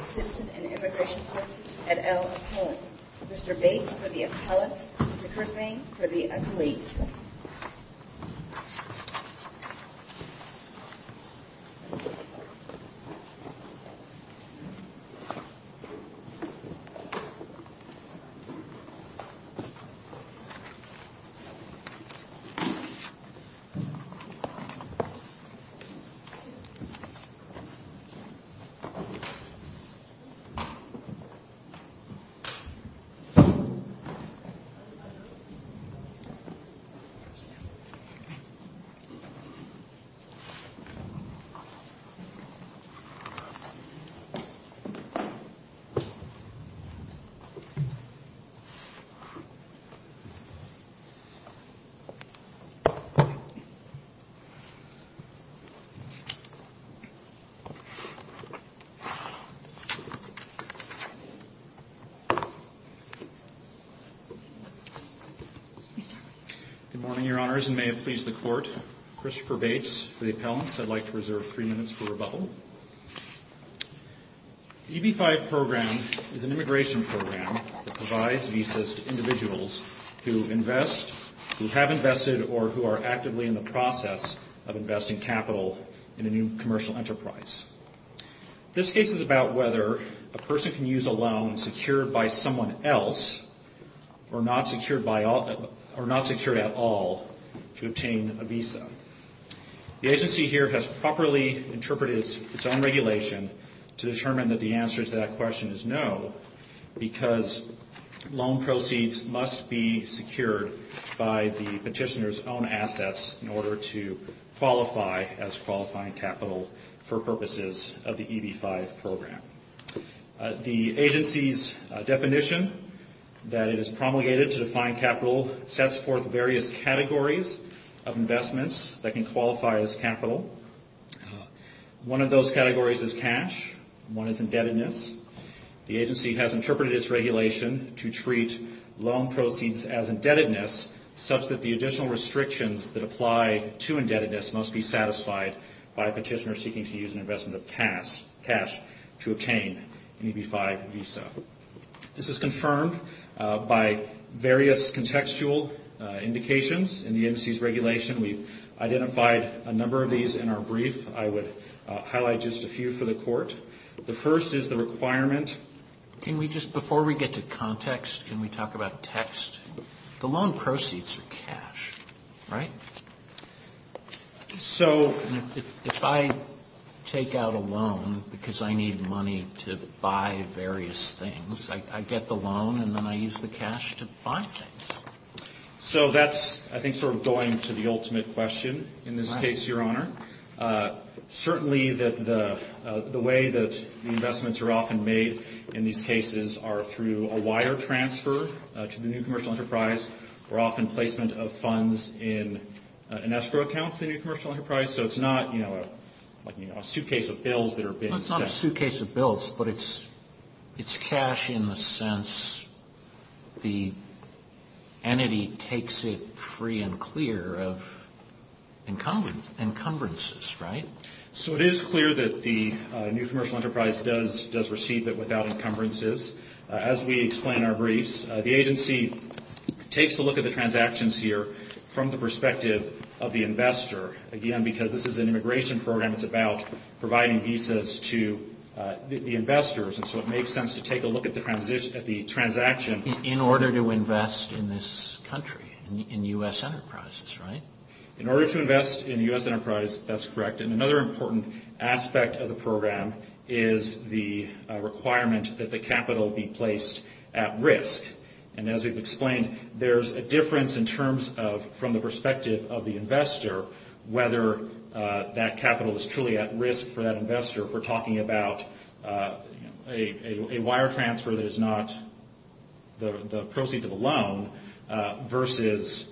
Citizens and Immigration Courts, et al., Appellates. Mr. Bates for the Appellates. Mr. Kersang for the Accolades. Thank you, Mr. Bates. Good morning, Your Honors, and may it please the Court, Christopher Bates for the Appellates. I'd like to reserve three minutes for rebuttal. The EB-5 program is an immigration program that provides visas to individuals who invest, who have invested, or who are actively in the process of investing capital in a new commercial enterprise. This case is about whether a person can use a loan secured by someone else or not secured by or not secured at all to obtain a visa. The agency here has properly interpreted its own regulation to determine that the answer to that question is no, because loan proceeds must be secured by the petitioner's own assets in order to qualify as qualifying capital for purposes of the EB-5 program. The agency's definition that it is promulgated to define capital sets forth various categories of investments that can qualify as capital. One of those categories is cash. One is indebtedness. The agency has interpreted its regulation to treat loan proceeds as indebtedness such that the additional This is confirmed by various contextual indications in the agency's regulation. We've identified a number of these in our brief. I would highlight just a few for the Court. The first is the requirement... Can we just, before we get to context, can we talk about text? The loan proceeds are cash, right? So... If I take out a loan because I need money to buy various things, I get the loan and then I use the cash to buy things. So that's, I think, sort of going to the ultimate question in this case, Your Honor. Certainly the way that the investments are often made in these cases are through a wire transfer to the new commercial enterprise, or often placement of funds in an escrow account with the new commercial enterprise. So it's not, you know, a suitcase of bills that are being sent. But it's cash in the sense the entity takes it free and clear of encumbrances, right? So it is clear that the new commercial enterprise does receive it without encumbrances. As we explain in our briefs, the agency takes a look at the transactions here from the perspective of the investor. Again, because this is an immigration program, it's about providing visas to the investors. And so it makes sense to take a look at the transaction... In order to invest in this country, in U.S. enterprises, right? In order to invest in U.S. enterprise, that's correct. And another important aspect of the program is the requirement that the capital be placed at risk. And as we've explained, there's a difference in terms of, from the perspective of the investor, whether that capital is truly at risk for that investor if we're talking about a wire transfer that is not the proceeds of a loan versus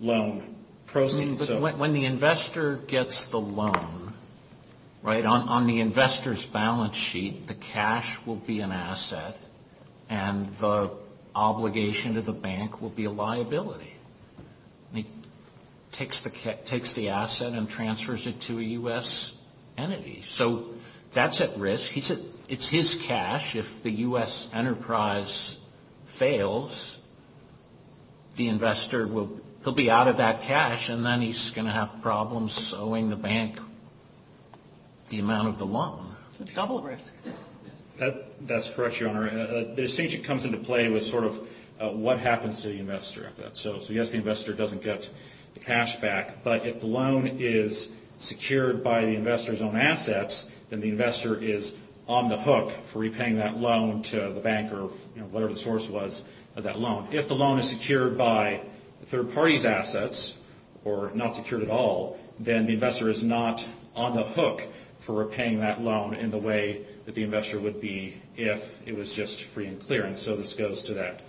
loan proceeds. When the investor gets the loan, right? On the investor's balance sheet, the cash will be an asset and the obligation to the bank will be a liability. It takes the asset and transfers it to a U.S. entity. So that's at risk. He said it's his cash. If the U.S. enterprise fails, the investor will be out of that cash and then he's going to have problems owing the bank the amount of the loan. A couple of risks. That's correct, Your Honor. The distinction comes into play with sort of what happens to the investor if that's so. So yes, the investor doesn't get the cash back. But if the loan is secured by the investor's own assets, then the investor is on the hook for repaying that loan to the bank or, you know, whatever the source was of that loan. If the loan is secured by a third party's assets or not secured at all, then the investor is not on the hook for repaying that loan in the way that the investor would be if it was just free and clear. And so this goes to that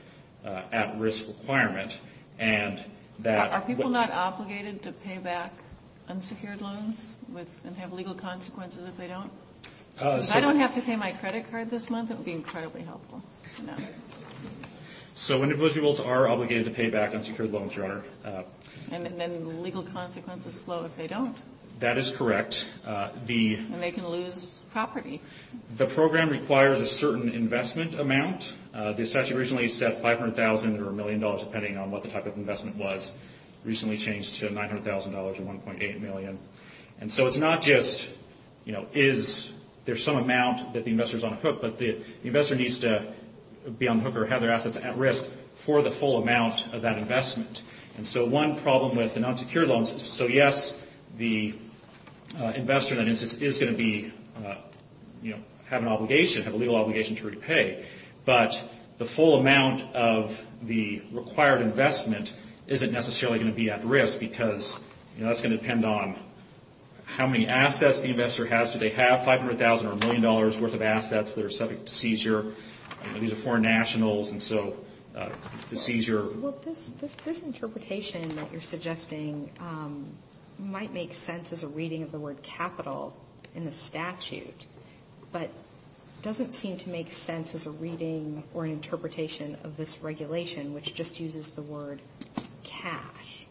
at-risk requirement. Are people not obligated to pay back unsecured loans and have legal consequences if they don't? If I don't have to pay my credit card this month, it would be incredibly helpful. So individuals are obligated to pay back unsecured loans, Your Honor. And then legal consequences flow if they don't. That is correct. And they can lose property. The program requires a certain investment amount. The statute originally said $500,000 or $1 million, depending on what the type of investment was. It recently changed to $900,000 or $1.8 million. And so it's not just, you know, is there some amount that the investor is on the hook, but the investor needs to be on the hook or have their assets at risk for the full amount of that investment. And so one problem with the non-secured loans, so yes, the investor then is going to be, you know, have an obligation, have a legal obligation to repay. But the full amount of the required investment isn't necessarily going to be at risk because, you know, that's going to depend on how many assets the investor has. Do they have $500,000 or $1 million worth of assets that are subject to seizure? These are foreign nationals, and so the seizure. Well, this interpretation that you're suggesting might make sense as a reading of the word capital in the statute, but it doesn't seem to make sense as a reading or an interpretation of this regulation, which just uses the word cash.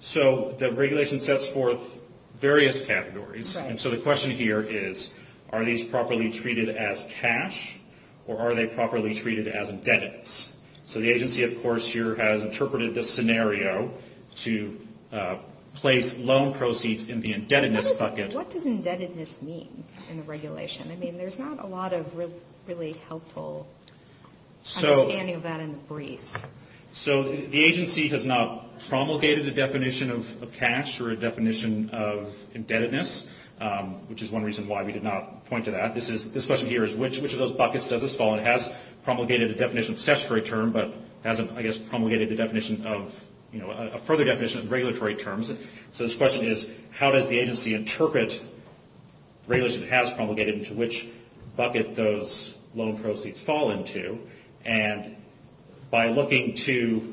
So the regulation sets forth various categories. And so the question here is, are these properly treated as cash, or are they properly treated as indebtedness? So the agency, of course, here has interpreted this scenario to place loan proceeds in the indebtedness bucket. But what does indebtedness mean in the regulation? I mean, there's not a lot of really helpful understanding of that in the briefs. So the agency has not promulgated the definition of cash or a definition of indebtedness, which is one reason why we did not point to that. This question here is, which of those buckets does this fall in? It has promulgated the definition of a statutory term, but hasn't, I guess, promulgated the definition of, you know, a further definition of regulatory terms. So this question is, how does the agency interpret regulation that has promulgated and to which bucket those loan proceeds fall into? And by looking to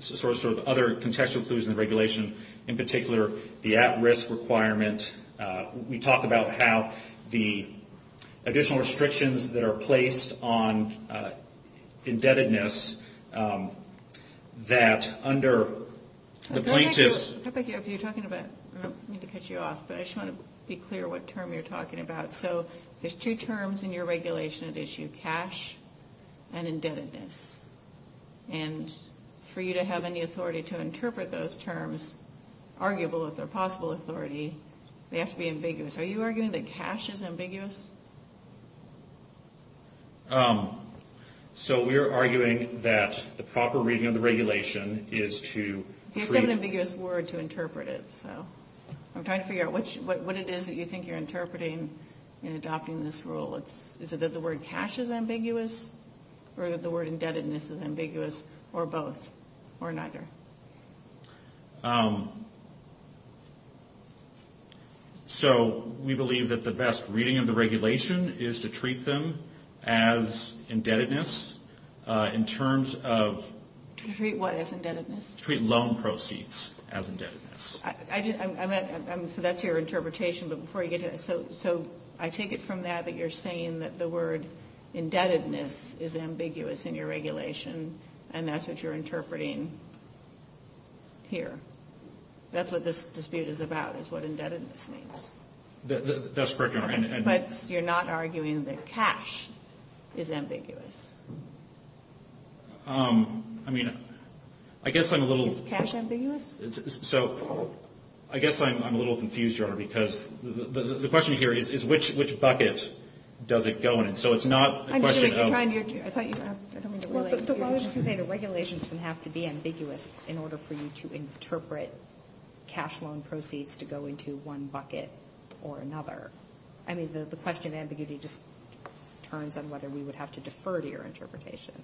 sort of other contextual clues in the regulation, in particular, the at-risk requirement, we talk about how the additional restrictions that are placed on indebtedness that under the plaintiffs' I don't know if you're talking about, I don't mean to cut you off, but I just want to be clear what term you're talking about. So there's two terms in your regulation at issue, cash and indebtedness. And for you to have any authority to interpret those terms, arguable if they're possible authority, they have to be ambiguous. Are you arguing that cash is ambiguous? So we are arguing that the proper reading of the regulation is to treat You have to have an ambiguous word to interpret it. So I'm trying to figure out what it is that you think you're interpreting in adopting this rule. Is it that the word cash is ambiguous? Or that the word indebtedness is ambiguous? Or both? Or neither? So we believe that the best reading of the regulation is to treat them as indebtedness in terms of Treat what as indebtedness? Treat loan proceeds as indebtedness. So that's your interpretation. So I take it from that that you're saying that the word indebtedness is ambiguous in your regulation and that's what you're interpreting here. That's what this dispute is about is what indebtedness means. That's correct, Your Honor. But you're not arguing that cash is ambiguous? I mean, I guess I'm a little Is cash ambiguous? So I guess I'm a little confused, Your Honor, because the question here is which bucket does it go in? So it's not a question of I thought you were going to relate Well, I was just going to say the regulation doesn't have to be ambiguous in order for you to interpret cash loan proceeds to go into one bucket or another. I mean, the question of ambiguity just turns on whether we would have to defer to your interpretation.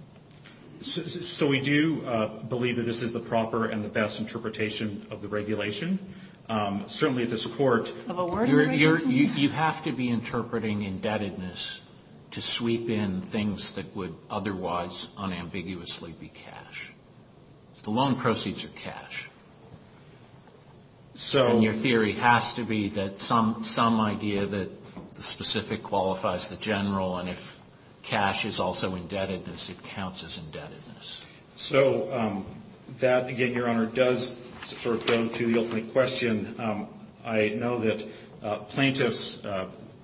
So we do believe that this is the proper and the best interpretation of the regulation. Certainly at this court You have to be interpreting indebtedness to sweep in things that would otherwise unambiguously be cash. The loan proceeds are cash. And your theory has to be that some idea that the specific qualifies the general and if cash is also indebtedness, it counts as indebtedness. So that, again, Your Honor, does sort of go to the ultimate question. I know that plaintiffs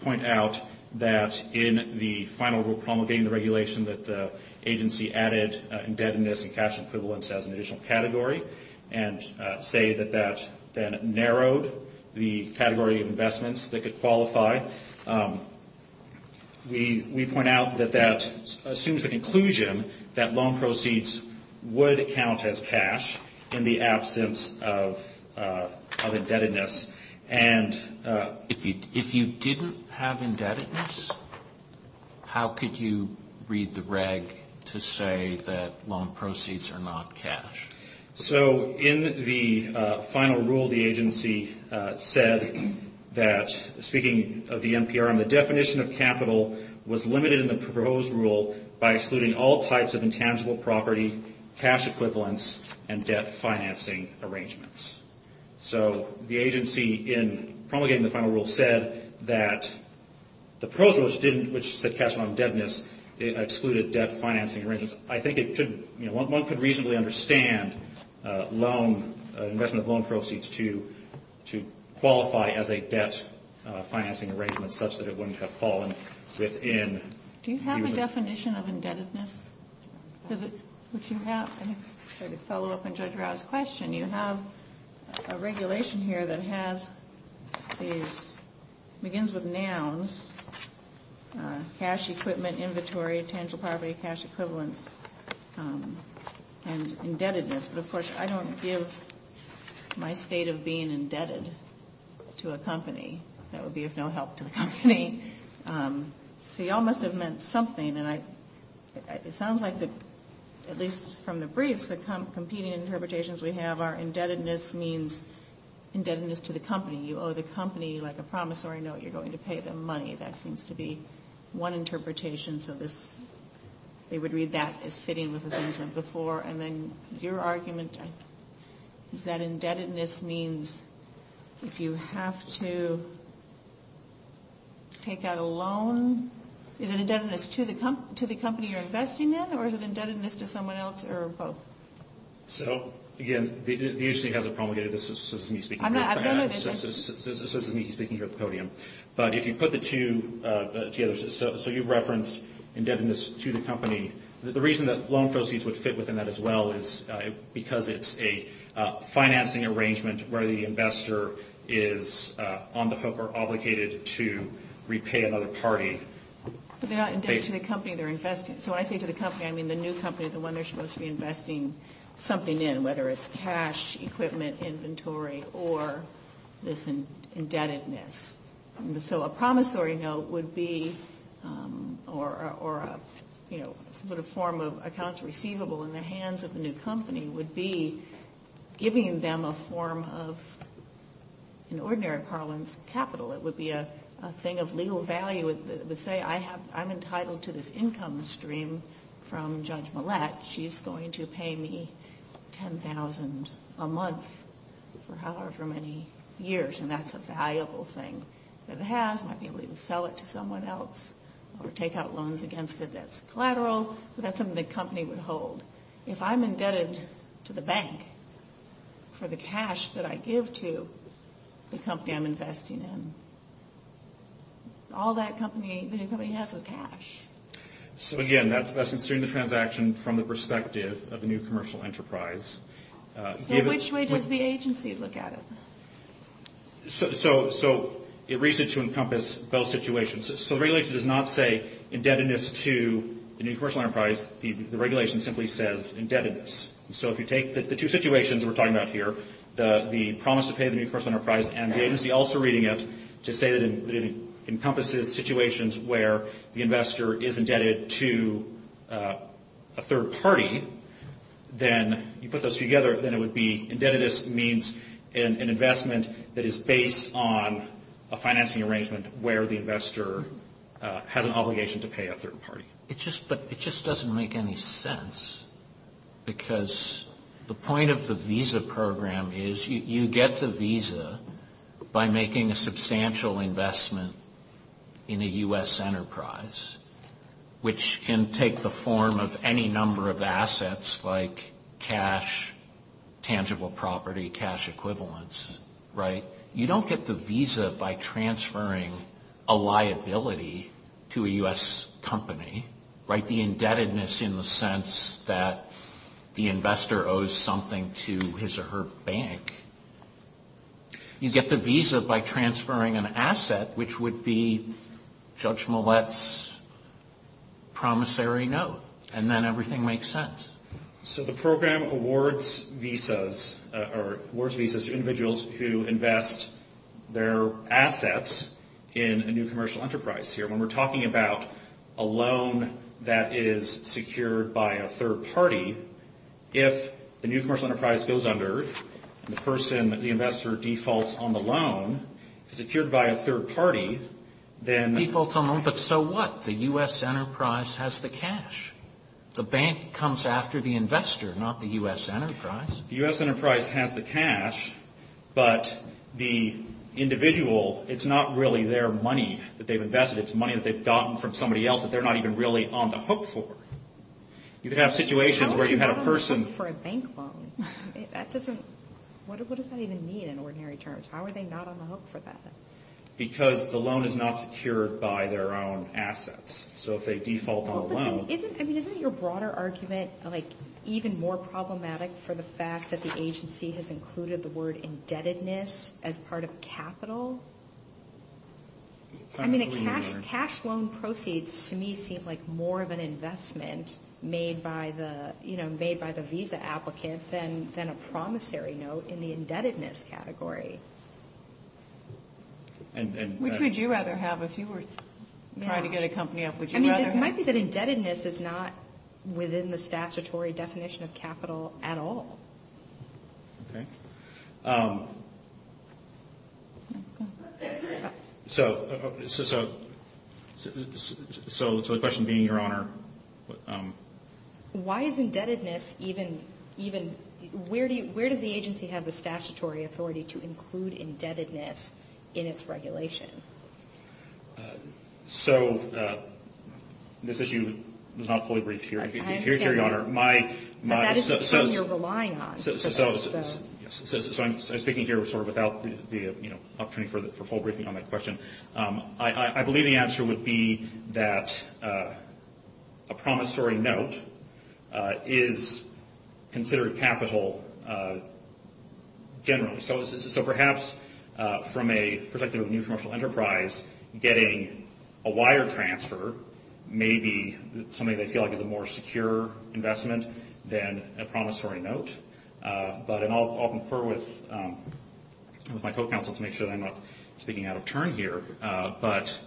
point out that in the final rule promulgating the regulation that the agency added indebtedness and cash equivalence as an additional category and say that that then narrowed the category of investments that could qualify. We point out that that assumes a conclusion that loan proceeds would count as cash in the absence of indebtedness. And if you didn't have indebtedness, how could you read the reg to say that loan proceeds are not cash? So in the final rule, the agency said that, speaking of the NPRM, the definition of capital was limited in the proposed rule by excluding all types of intangible property, cash equivalence, and debt financing arrangements. So the agency in promulgating the final rule said that the proposed rule, which said cash on indebtedness, excluded debt financing arrangements. I think one could reasonably understand investment of loan proceeds to qualify as a debt financing arrangement such that it wouldn't have fallen within. Do you have a definition of indebtedness? Would you have? To follow up on Judge Rau's question, you have a regulation here that begins with nouns, cash equipment, inventory, intangible property, cash equivalence, and indebtedness. But, of course, I don't give my state of being indebted to a company. That would be of no help to the company. So you all must have meant something, and it sounds like, at least from the briefs, the competing interpretations we have are indebtedness means indebtedness to the company. You owe the company, like a promissory note, you're going to pay them money. That seems to be one interpretation. So they would read that as fitting with the things from before. And then your argument is that indebtedness means if you have to take out a loan, is it indebtedness to the company you're investing in, or is it indebtedness to someone else, or both? So, again, the agency hasn't promulgated this. So this is me speaking here at the podium. But if you put the two together, so you've referenced indebtedness to the company. The reason that loan proceeds would fit within that as well is because it's a financing arrangement where the investor is on the hook or obligated to repay another party. But they're not indebted to the company they're investing. So when I say to the company, I mean the new company, the one they're supposed to be investing something in, whether it's cash, equipment, inventory, or this indebtedness. So a promissory note would be, or a sort of form of accounts receivable in the hands of the new company, would be giving them a form of, in ordinary parlance, capital. It would be a thing of legal value. It would say, I'm entitled to this income stream from Judge Millett. She's going to pay me $10,000 a month for however many years. And that's a valuable thing that it has. I might be able to even sell it to someone else or take out loans against it that's collateral. That's something the company would hold. If I'm indebted to the bank for the cash that I give to the company I'm investing in, all that company has is cash. So again, that's considering the transaction from the perspective of the new commercial enterprise. So which way does the agency look at it? So it reads it to encompass both situations. So the regulation does not say indebtedness to the new commercial enterprise. The regulation simply says indebtedness. So if you take the two situations we're talking about here, the promise to pay the new commercial enterprise and the agency also reading it to say that it encompasses situations where the investor is indebted to a third party, then you put those together, then it would be indebtedness means an investment that is based on a financing arrangement where the investor has an obligation to pay a third party. It just doesn't make any sense because the point of the visa program is you get the visa by making a substantial investment in a U.S. enterprise, which can take the form of any number of assets like cash, tangible property, cash equivalents, right? You don't get the visa by transferring a liability to a U.S. company, right? The indebtedness in the sense that the investor owes something to his or her bank. You get the visa by transferring an asset, which would be Judge Millett's promissory note. And then everything makes sense. So the program awards visas to individuals who invest their assets in a new commercial enterprise here. When we're talking about a loan that is secured by a third party, if the new commercial enterprise goes under and the person, the investor defaults on the loan, secured by a third party, then... Defaults on the loan, but so what? The U.S. enterprise has the cash. The bank comes after the investor, not the U.S. enterprise. The U.S. enterprise has the cash, but the individual, it's not really their money that they've invested. It's money that they've gotten from somebody else that they're not even really on the hook for. You could have situations where you had a person... How would you not on the hook for a bank loan? That doesn't... What does that even mean in ordinary terms? How are they not on the hook for that? Because the loan is not secured by their own assets. If they default on a loan... Isn't your broader argument even more problematic for the fact that the agency has included the word indebtedness as part of capital? Cash loan proceeds to me seem like more of an investment made by the visa applicant than a promissory note in the indebtedness category. Which would you rather have? If you were trying to get a company up, would you rather have... It might be that indebtedness is not within the statutory definition of capital at all. Okay. So the question being, Your Honor... Why is indebtedness even... in its regulation? So this issue is not fully briefed here, Your Honor. But that is the term you're relying on. So I'm speaking here without the opportunity for full briefing on that question. I believe the answer would be that a promissory note is considered capital generally. So perhaps from a perspective of a new commercial enterprise, getting a wire transfer may be something they feel like is a more secure investment than a promissory note. But I'll confer with my co-counsel to make sure that I'm not speaking out of turn here. But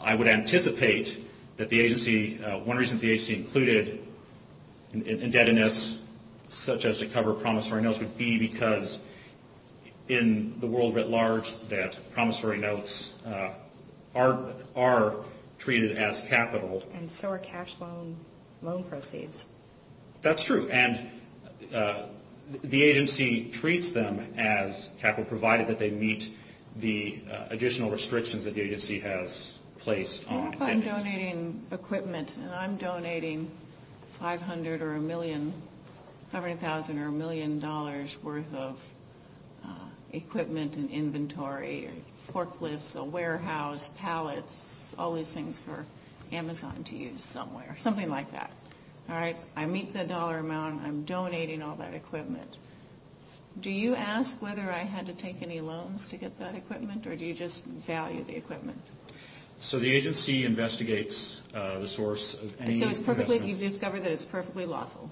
I would anticipate that the agency... One reason the agency included indebtedness such as to cover promissory notes would be because in the world at large that promissory notes are treated as capital. And so are cash loan proceeds. That's true. And the agency treats them as capital provided that they meet the additional restrictions that the agency has placed on indebtedness. I'm donating equipment, and I'm donating $500,000 or $1 million worth of equipment and inventory, forklifts, a warehouse, pallets, all these things for Amazon to use somewhere, something like that, all right? I meet the dollar amount. I'm donating all that equipment. Do you ask whether I had to take any loans to get that equipment, or do you just value the equipment? So the agency investigates the source of any investment. And so you've discovered that it's perfectly lawful.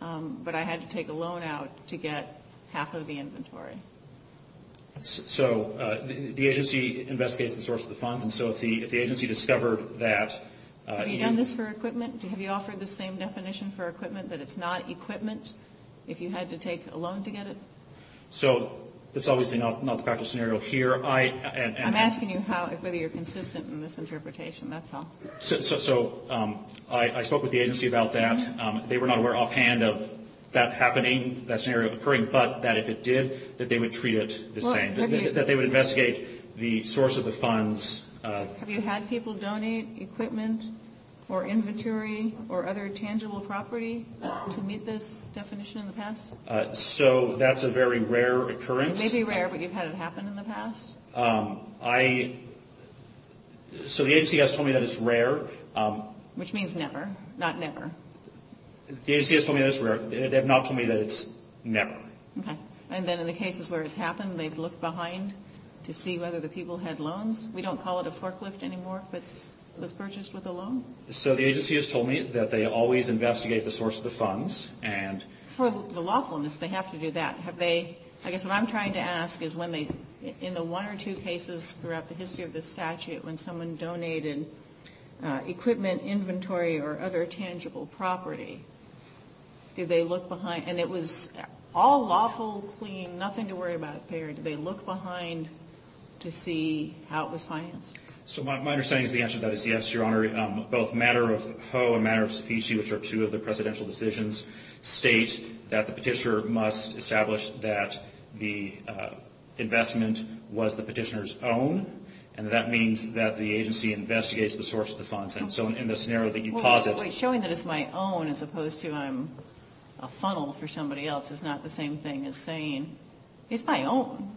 But I had to take a loan out to get half of the inventory. So the agency investigates the source of the funds. And so if the agency discovered that... Have you done this for equipment? Have you offered the same definition for equipment, that it's not equipment, if you had to take a loan to get it? So that's obviously not the practice scenario here. I'm asking you whether you're consistent in this interpretation, that's all. So I spoke with the agency about that. They were not aware offhand of that happening, that scenario occurring, but that if it did, that they would treat it the same, that they would investigate the source of the funds. Have you had people donate equipment or inventory or other tangible property to meet this definition in the past? So that's a very rare occurrence. It may be rare, but you've had it happen in the past? So the agency has told me that it's rare. Which means never, not never. The agency has told me that it's rare. They have not told me that it's never. Okay. And then in the cases where it's happened, they've looked behind to see whether the people had loans? We don't call it a forklift anymore if it was purchased with a loan? So the agency has told me that they always investigate the source of the funds. For the lawfulness, they have to do that. I guess what I'm trying to ask is when they, in the one or two cases throughout the history of this statute, when someone donated equipment, inventory, or other tangible property, did they look behind? And it was all lawful, clean, nothing to worry about there. Did they look behind to see how it was financed? So my understanding is the answer to that is yes, Your Honor. Both Matter of Ho and Matter of Specie, which are two of the presidential decisions, state that the petitioner must establish that the investment was the petitioner's own, and that means that the agency investigates the source of the funds. And so in the scenario that you posit. Well, showing that it's my own as opposed to I'm a funnel for somebody else is not the same thing as saying it's my own,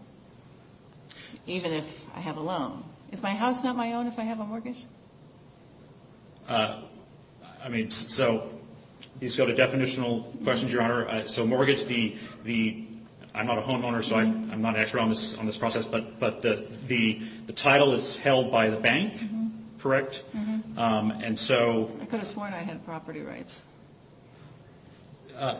even if I have a loan. I mean, so these go to definitional questions, Your Honor. So mortgage, I'm not a homeowner, so I'm not an expert on this process, but the title is held by the bank, correct? I could have sworn I had property rights.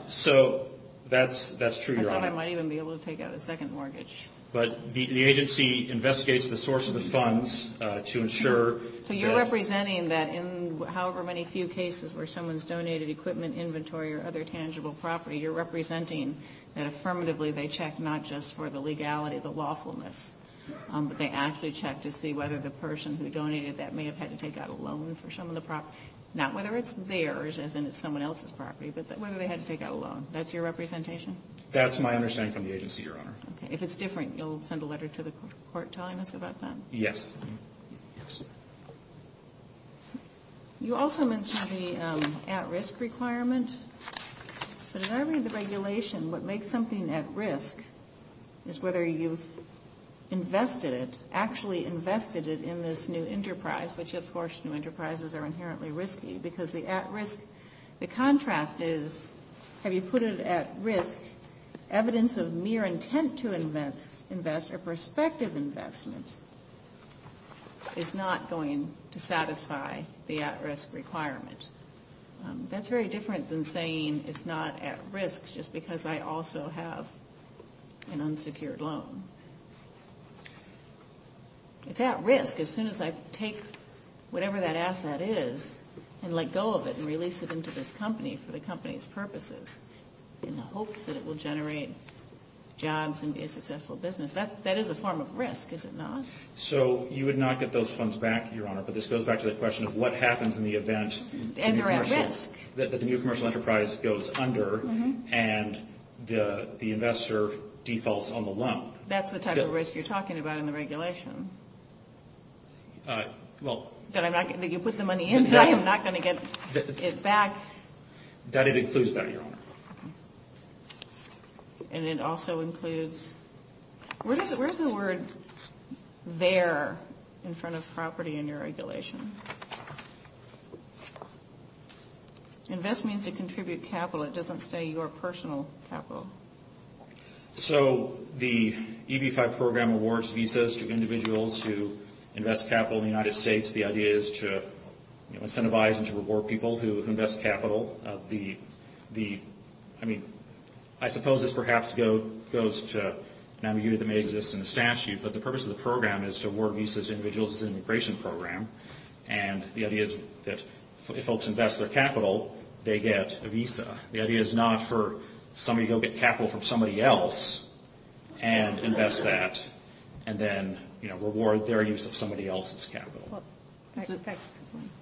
So that's true, Your Honor. I thought I might even be able to take out a second mortgage. But the agency investigates the source of the funds to ensure that. So you're representing that in however many few cases where someone's donated equipment, inventory, or other tangible property, you're representing that affirmatively they checked not just for the legality, the lawfulness, but they actually checked to see whether the person who donated that may have had to take out a loan for some of the property. Not whether it's theirs, as in it's someone else's property, but whether they had to take out a loan. That's your representation? That's my understanding from the agency, Your Honor. Okay. If it's different, you'll send a letter to the court telling us about that? Yes. Yes. You also mentioned the at-risk requirement. But as I read the regulation, what makes something at risk is whether you've invested it, actually invested it in this new enterprise, the contrast is have you put it at risk evidence of mere intent to invest or prospective investment is not going to satisfy the at-risk requirement. That's very different than saying it's not at risk just because I also have an unsecured loan. It's at risk as soon as I take whatever that asset is and let go of it and release it into this company for the company's purposes in the hopes that it will generate jobs and be a successful business. That is a form of risk, is it not? So you would not get those funds back, Your Honor, but this goes back to the question of what happens in the event that the new commercial enterprise goes under and the investor defaults on the loan. That's the type of risk you're talking about in the regulation? That you put the money in, I am not going to get it back? That includes that, Your Honor. And it also includes, where's the word there in front of property in your regulation? Invest means to contribute capital. It doesn't say your personal capital. So the EB-5 program awards visas to individuals who invest capital in the United States. The idea is to incentivize and to reward people who invest capital. I suppose this perhaps goes to an ambiguity that may exist in the statute, but the purpose of the program is to award visas to individuals in an immigration program. And the idea is that if folks invest their capital, they get a visa. The idea is not for somebody to go get capital from somebody else and invest that and then reward their use of somebody else's capital.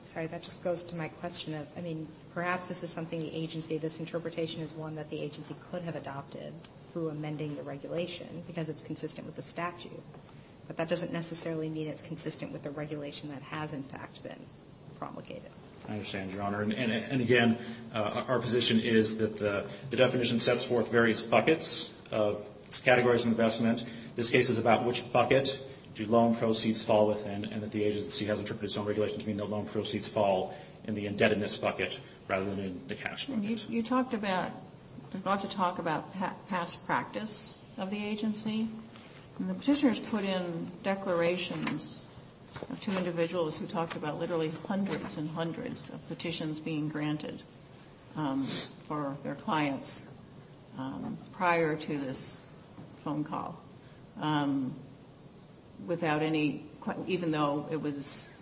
Sorry, that just goes to my question of, I mean, perhaps this is something the agency, this interpretation is one that the agency could have adopted through amending the regulation because it's consistent with the statute. But that doesn't necessarily mean it's consistent with the regulation that has, in fact, been promulgated. I understand, Your Honor. And, again, our position is that the definition sets forth various buckets, categories of investment. This case is about which bucket do loan proceeds fall within and that the agency has interpreted its own regulation to mean that loan proceeds fall in the indebtedness bucket rather than in the cash bucket. You talked about, lots of talk about past practice of the agency. And the petitioners put in declarations to individuals who talked about literally hundreds and hundreds of petitions being granted for their clients prior to this phone call without any, even though it was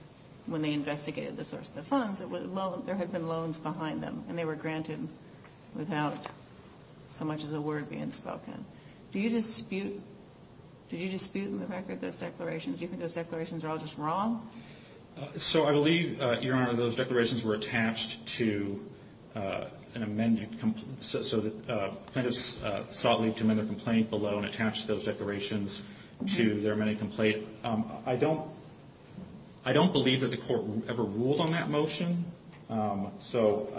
when they investigated the source of the funds, there had been loans behind them and they were granted without so much as a word being spoken. Do you dispute the fact that those declarations, do you think those declarations are all just wrong? So I believe, Your Honor, those declarations were attached to an amended, so plaintiffs sought leave to amend their complaint below and attached those declarations to their amended complaint. I don't believe that the Court ever ruled on that motion. So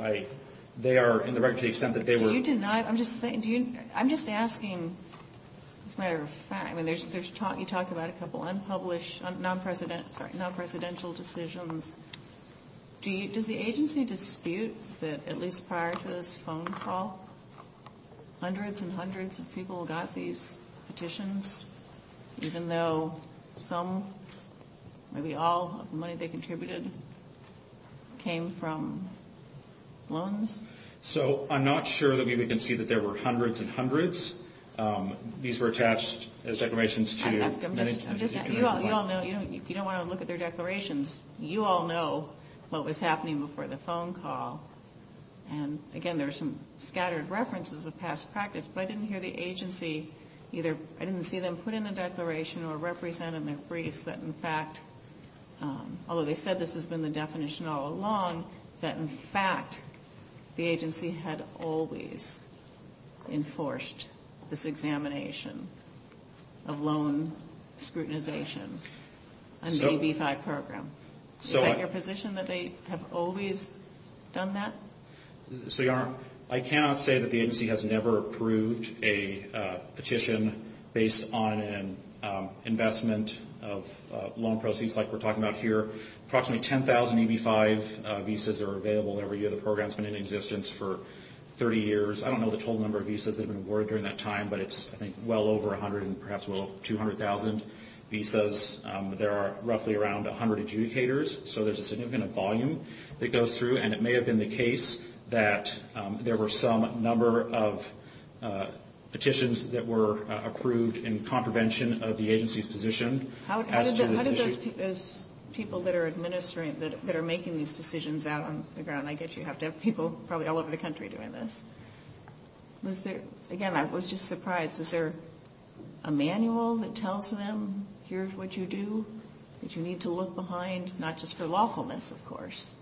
they are in the record to the extent that they were. Do you deny, I'm just saying, I'm just asking as a matter of fact, I mean, you talk about a couple unpublished, non-presidential decisions. Does the agency dispute that at least prior to this phone call, hundreds and hundreds of people got these petitions, even though some, maybe all of the money they contributed came from loans? So I'm not sure that we can see that there were hundreds and hundreds. These were attached as declarations to many, many people. You all know, if you don't want to look at their declarations, you all know what was happening before the phone call. And again, there are some scattered references of past practice, but I didn't hear the agency either, I didn't see them put in a declaration or represent in their briefs that in fact, although they said this has been the definition all along, that in fact, the agency had always enforced this examination of loan scrutinization on the EB-5 program. Is that your position, that they have always done that? So, Your Honor, I cannot say that the agency has never approved a petition based on an investment of loan proceeds like we're talking about here. Approximately 10,000 EB-5 visas are available every year. The program's been in existence for 30 years. I don't know the total number of visas that have been awarded during that time, but it's, I think, well over 100 and perhaps well over 200,000 visas. There are roughly around 100 adjudicators, so there's a significant volume that goes through, and it may have been the case that there were some number of petitions that were approved in contravention of the agency's position as to this issue. Those people that are administering, that are making these decisions out on the ground, I guess you have to have people probably all over the country doing this. Was there, again, I was just surprised, was there a manual that tells them, here's what you do, that you need to look behind, not just for lawfulness, of course,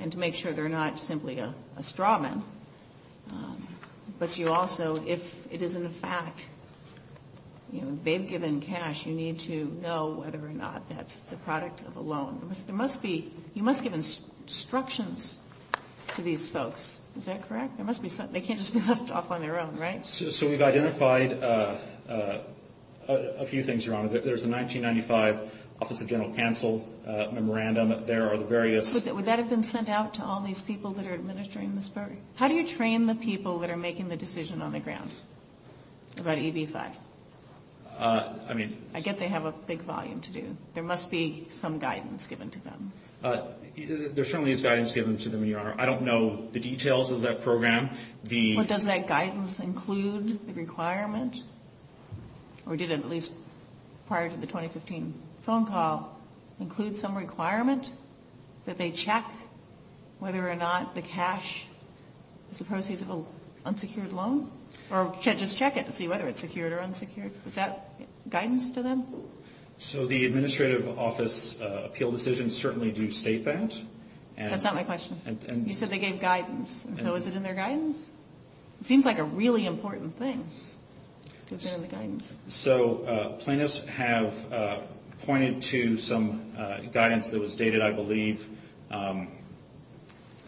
and to make sure they're not simply a straw man, but you also, if it isn't a fact, you know, they've given cash, you need to know whether or not that's the product of a loan. There must be, you must give instructions to these folks, is that correct? There must be, they can't just be left off on their own, right? So we've identified a few things, Your Honor. There's a 1995 Office of General Counsel memorandum. There are the various... Would that have been sent out to all these people that are administering this program? How do you train the people that are making the decision on the ground? About EB-5. I mean... I get they have a big volume to do. There must be some guidance given to them. There certainly is guidance given to them, Your Honor. I don't know the details of that program. But does that guidance include the requirement, or did it at least prior to the 2015 phone call include some requirement that they check whether or not the cash is a proceeds of an unsecured loan? Or just check it to see whether it's secured or unsecured. Is that guidance to them? So the administrative office appeal decisions certainly do state that. That's not my question. You said they gave guidance. So is it in their guidance? It seems like a really important thing. Is it in the guidance? So plaintiffs have pointed to some guidance that was dated, I believe.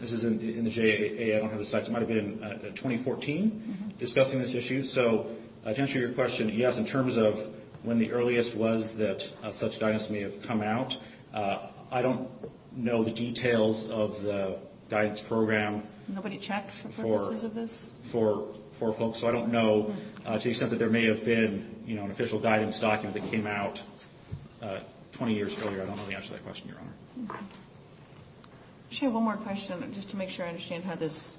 This is in the JAA. It might have been 2014 discussing this issue. So to answer your question, yes, in terms of when the earliest was that such guidance may have come out. I don't know the details of the guidance program. Nobody checked for purposes of this? For folks. So I don't know to the extent that there may have been an official guidance document that came out 20 years earlier. I don't know the answer to that question, Your Honor. I just have one more question just to make sure I understand how this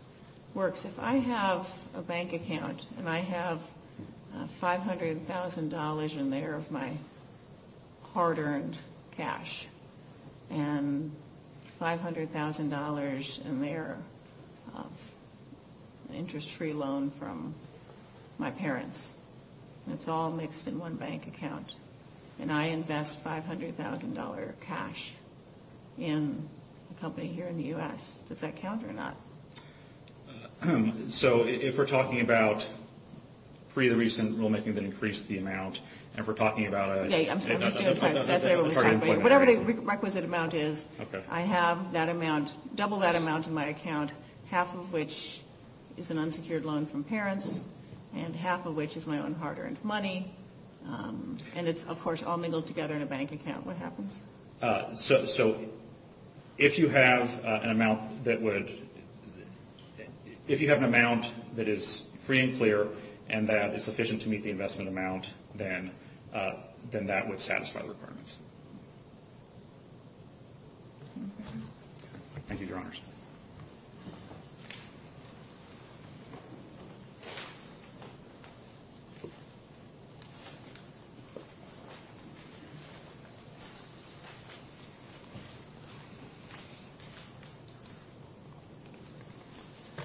works. If I have a bank account and I have $500,000 in there of my hard-earned cash and $500,000 in there of interest-free loan from my parents, and it's all mixed in one bank account, and I invest $500,000 cash in a company here in the U.S., does that count or not? So if we're talking about pre the recent rulemaking that increased the amount, and we're talking about a target employment. Whatever the requisite amount is, I have that amount, double that amount in my account, half of which is an unsecured loan from parents and half of which is my own hard-earned money. And it's, of course, all mingled together in a bank account. What happens? So if you have an amount that is free and clear and that is sufficient to meet the investment amount, then that would satisfy the requirements.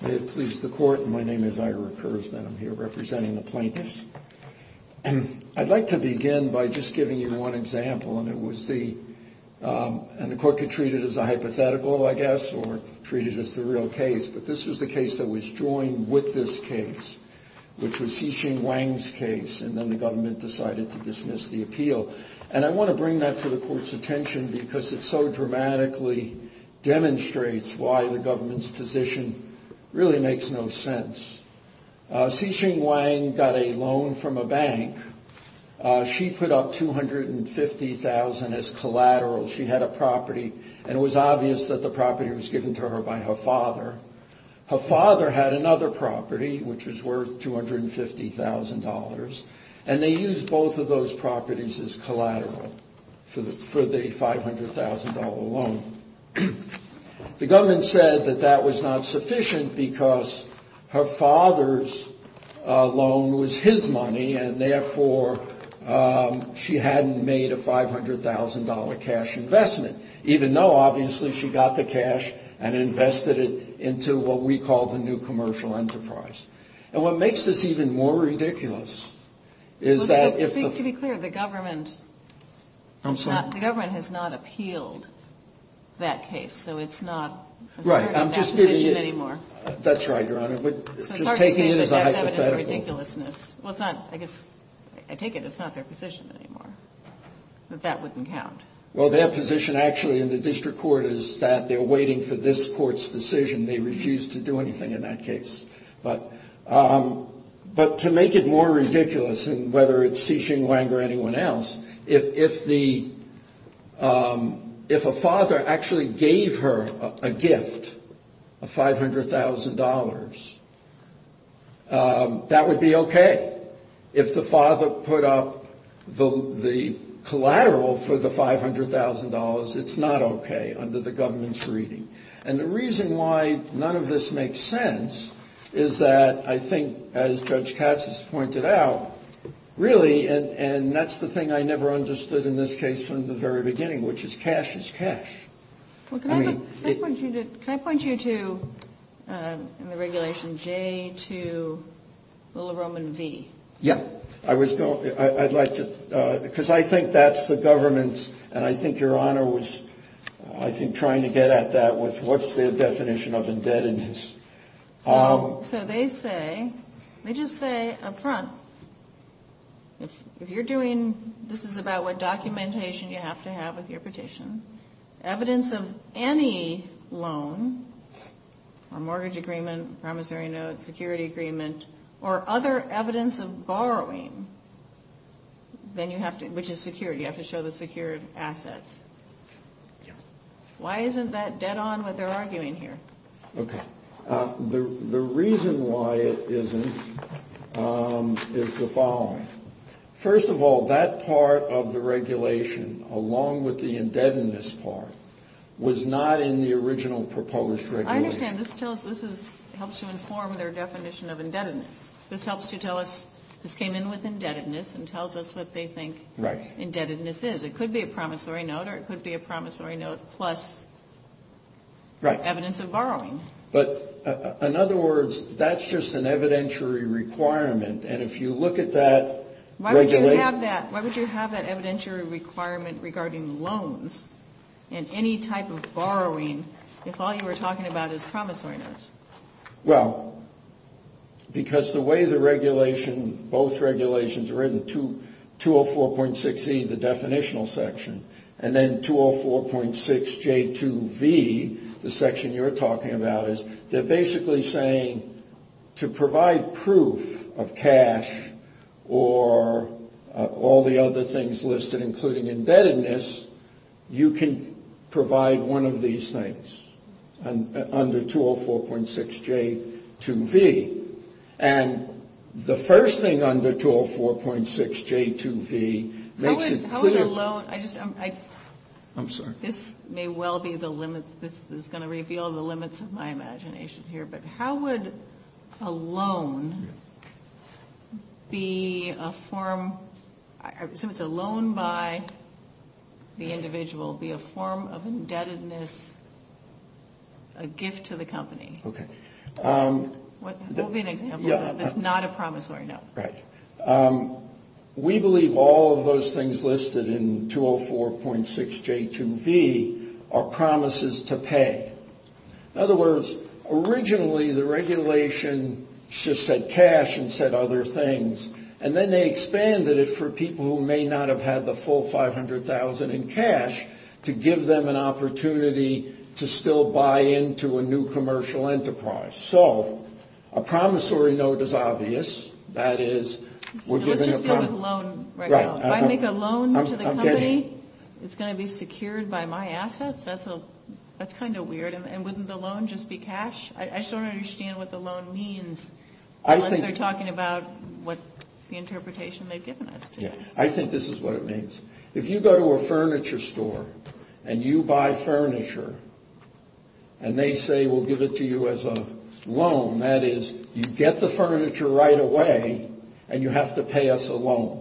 May it please the Court. My name is Ira Kurzman. I'm here representing the plaintiffs. I'd like to begin by just giving you one example, and the Court could treat it as a hypothetical, I guess, or treat it as the real case. But this was the case that was joined with this case, which was Xi Jinping Wang's case, and then the government decided to dismiss the appeal. And I want to bring that to the Court's attention because it so dramatically demonstrates why the government's position really makes no sense. Xi Jinping Wang got a loan from a bank. She put up $250,000 as collateral. She had a property, and it was obvious that the property was given to her by her father. Her father had another property, which was worth $250,000, and they used both of those properties as collateral for the $500,000 loan. The government said that that was not sufficient because her father's loan was his money, and therefore she hadn't made a $500,000 cash investment, even though obviously she got the cash and invested it into what we call the new commercial enterprise. And what makes this even more ridiculous is that if the ---- But to be clear, the government has not appealed that case, so it's not a certain position anymore. That's right, Your Honor, but just taking it as a hypothetical. Well, I guess I take it it's not their position anymore, that that wouldn't count. Well, their position actually in the district court is that they're waiting for this court's decision. They refuse to do anything in that case. But to make it more ridiculous, and whether it's Xi Jinping Wang or anyone else, if a father actually gave her a gift of $500,000, that would be okay. If the father put up the collateral for the $500,000, it's not okay under the government's reading. And the reason why none of this makes sense is that I think, as Judge Katz has pointed out, really, and that's the thing I never understood in this case from the very beginning, which is cash is cash. Well, can I point you to, in the regulation, J to Little Roman V? Yeah. I was going to ---- I'd like to, because I think that's the government, and I think Your Honor was, I think, trying to get at that with what's their definition of indebtedness. So they say, they just say up front, if you're doing, this is about what documentation you have to have with your petition, evidence of any loan or mortgage agreement, promissory note, security agreement, or other evidence of borrowing, then you have to, which is security, you have to show the secured assets. Why isn't that dead on what they're arguing here? Okay. The reason why it isn't is the following. First of all, that part of the regulation, along with the indebtedness part, was not in the original proposed regulation. I understand. This tells us, this is, helps to inform their definition of indebtedness. This helps to tell us, this came in with indebtedness and tells us what they think indebtedness is. It could be a promissory note, or it could be a promissory note plus evidence of borrowing. But, in other words, that's just an evidentiary requirement, and if you look at that, Why would you have that, why would you have that evidentiary requirement regarding loans and any type of borrowing if all you were talking about is promissory notes? Well, because the way the regulation, both regulations are written, 204.6E, the definitional section, and then 204.6J2V, the section you're talking about, is they're basically saying to provide proof of cash or all the other things listed, including indebtedness, you can provide one of these things under 204.6J2V, and the first thing under 204.6J2V makes it clear How would a loan, this may well be the limits, this is going to reveal the limits of my imagination here, but how would a loan be a form, I assume it's a loan by the individual, be a form of indebtedness, a gift to the company? Okay. What would be an example that's not a promissory note? Right. We believe all of those things listed in 204.6J2V are promises to pay. In other words, originally the regulation just said cash and said other things, and then they expanded it for people who may not have had the full $500,000 in cash to give them an opportunity to still buy into a new commercial enterprise. So a promissory note is obvious. That is, we're giving a promise. Let's just deal with a loan right now. If I make a loan to the company, it's going to be secured by my assets? That's kind of weird. And wouldn't the loan just be cash? I just don't understand what the loan means unless they're talking about the interpretation they've given us. I think this is what it means. If you go to a furniture store and you buy furniture and they say we'll give it to you as a loan, that is, you get the furniture right away and you have to pay us a loan.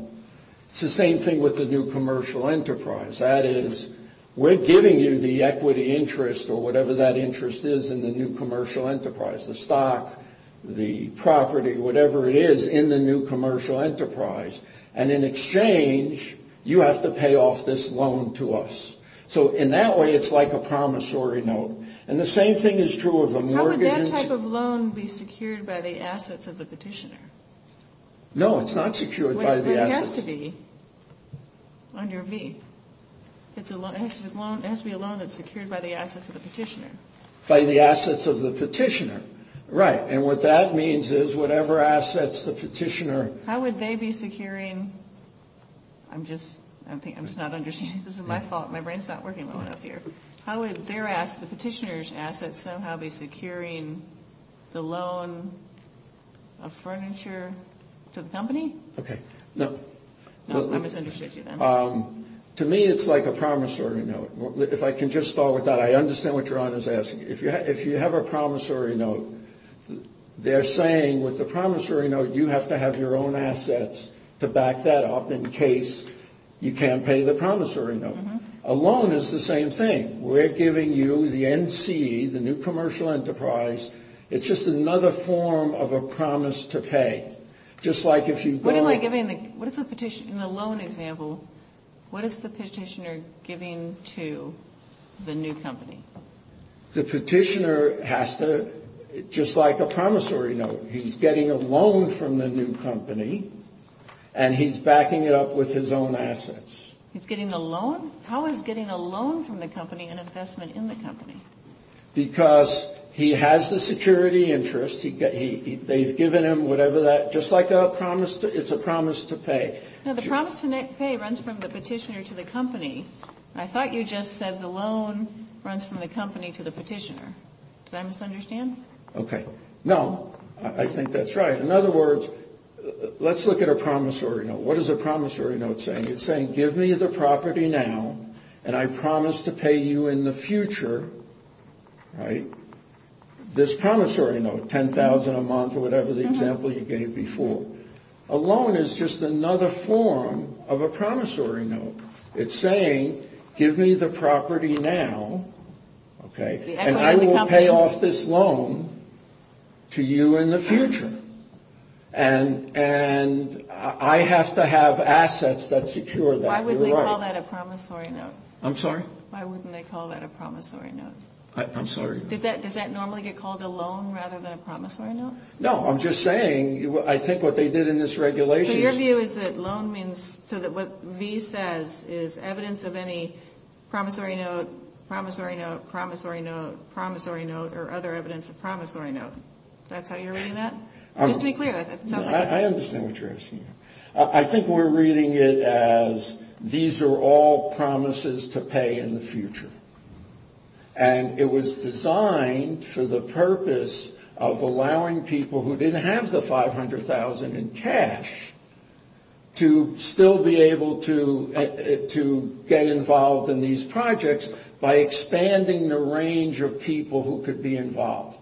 It's the same thing with the new commercial enterprise. That is, we're giving you the equity interest or whatever that interest is in the new commercial enterprise, the stock, the property, whatever it is in the new commercial enterprise, and in exchange you have to pay off this loan to us. So in that way it's like a promissory note. And the same thing is true of a mortgage. How would that type of loan be secured by the assets of the petitioner? No, it's not secured by the assets. It has to be under V. It has to be a loan that's secured by the assets of the petitioner. By the assets of the petitioner. Right. And what that means is whatever assets the petitioner. How would they be securing? I'm just not understanding. This is my fault. My brain's not working well enough here. How would their assets, the petitioner's assets, somehow be securing the loan of furniture to the company? Okay. No. I misunderstood you then. To me it's like a promissory note. If I can just start with that, I understand what your Honor's asking. If you have a promissory note, they're saying with the promissory note you have to have your own assets to back that up in case you can't pay the promissory note. A loan is the same thing. We're giving you the NC, the new commercial enterprise. It's just another form of a promise to pay. What am I giving? In the loan example, what is the petitioner giving to the new company? The petitioner has to, just like a promissory note, he's getting a loan from the new company, and he's backing it up with his own assets. He's getting a loan? How is getting a loan from the company an investment in the company? Because he has the security interest. They've given him whatever that, just like a promise, it's a promise to pay. The promise to pay runs from the petitioner to the company. I thought you just said the loan runs from the company to the petitioner. Did I misunderstand? Okay. No. I think that's right. In other words, let's look at a promissory note. What is a promissory note saying? It's saying, give me the property now, and I promise to pay you in the future, right? This promissory note, $10,000 a month or whatever the example you gave before. A loan is just another form of a promissory note. It's saying, give me the property now, okay, and I will pay off this loan to you in the future. And I have to have assets that secure that. Why wouldn't they call that a promissory note? I'm sorry? Why wouldn't they call that a promissory note? I'm sorry. Does that normally get called a loan rather than a promissory note? No, I'm just saying, I think what they did in this regulation. So your view is that loan means, so what V says is evidence of any promissory note, promissory note, promissory note, promissory note, or other evidence of promissory note. That's how you're reading that? Just to be clear. I understand what you're asking. I think we're reading it as these are all promises to pay in the future. And it was designed for the purpose of allowing people who didn't have the $500,000 in cash to still be able to get involved in these projects by expanding the range of people who could be involved.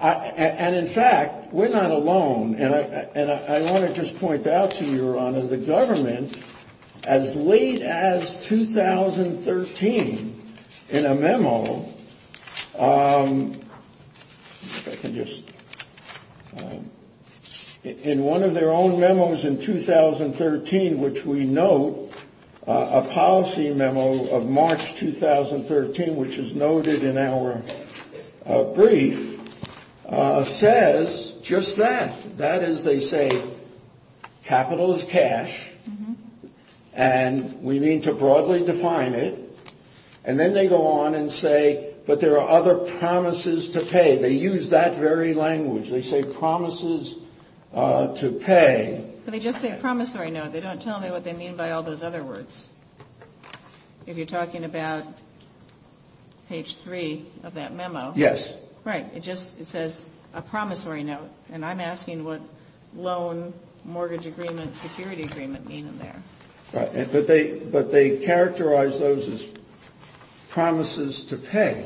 And in fact, we're not alone. And I want to just point out to you, Your Honor, the government, as late as 2013, in a memo, if I can just, in one of their own memos in 2013, which we note, a policy memo of March 2013, which is noted in our brief, says just that. That is, they say capital is cash, and we need to broadly define it. And then they go on and say, but there are other promises to pay. They use that very language. They say promises to pay. But they just say promissory note. They don't tell me what they mean by all those other words. If you're talking about page 3 of that memo. Yes. Right. It just says a promissory note, and I'm asking what loan, mortgage agreement, security agreement mean in there. But they characterize those as promises to pay.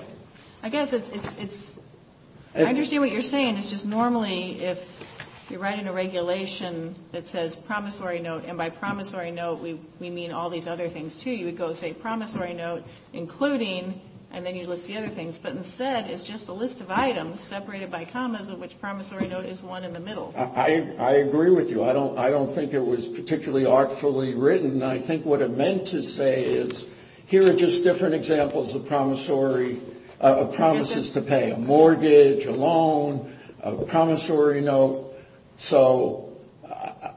I guess it's – I understand what you're saying. It's just normally if you're writing a regulation that says promissory note, and by promissory note we mean all these other things, too. You would go say promissory note, including, and then you'd list the other things. But instead, it's just a list of items separated by commas, of which promissory note is one in the middle. I agree with you. I don't think it was particularly artfully written. I think what it meant to say is here are just different examples of promissory – of promises to pay. A mortgage, a loan, a promissory note. So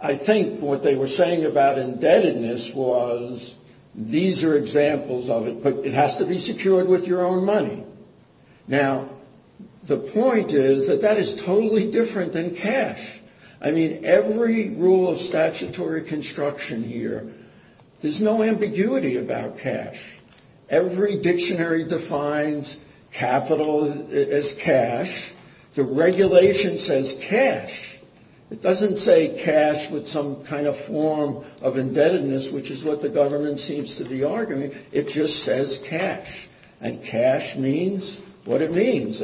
I think what they were saying about indebtedness was these are examples of it, but it has to be secured with your own money. Now, the point is that that is totally different than cash. I mean, every rule of statutory construction here, there's no ambiguity about cash. Every dictionary defines capital as cash. The regulation says cash. It doesn't say cash with some kind of form of indebtedness, which is what the government seems to be arguing. It just says cash. And cash means what it means.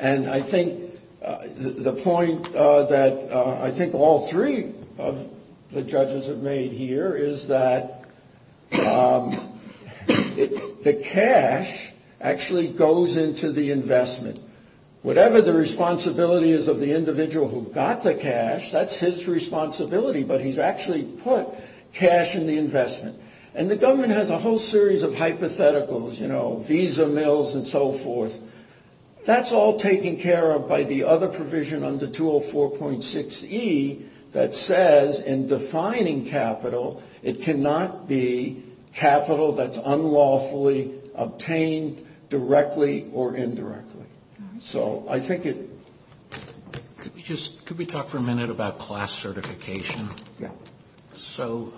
And I think the point that I think all three of the judges have made here is that the cash actually goes into the investment. Whatever the responsibility is of the individual who got the cash, that's his responsibility. But he's actually put cash in the investment. And the government has a whole series of hypotheticals, you know, visa mills and so forth. That's all taken care of by the other provision under 204.6E that says in defining capital, it cannot be capital that's unlawfully obtained directly or indirectly. So I think it... Could we talk for a minute about class certification? Yeah. So,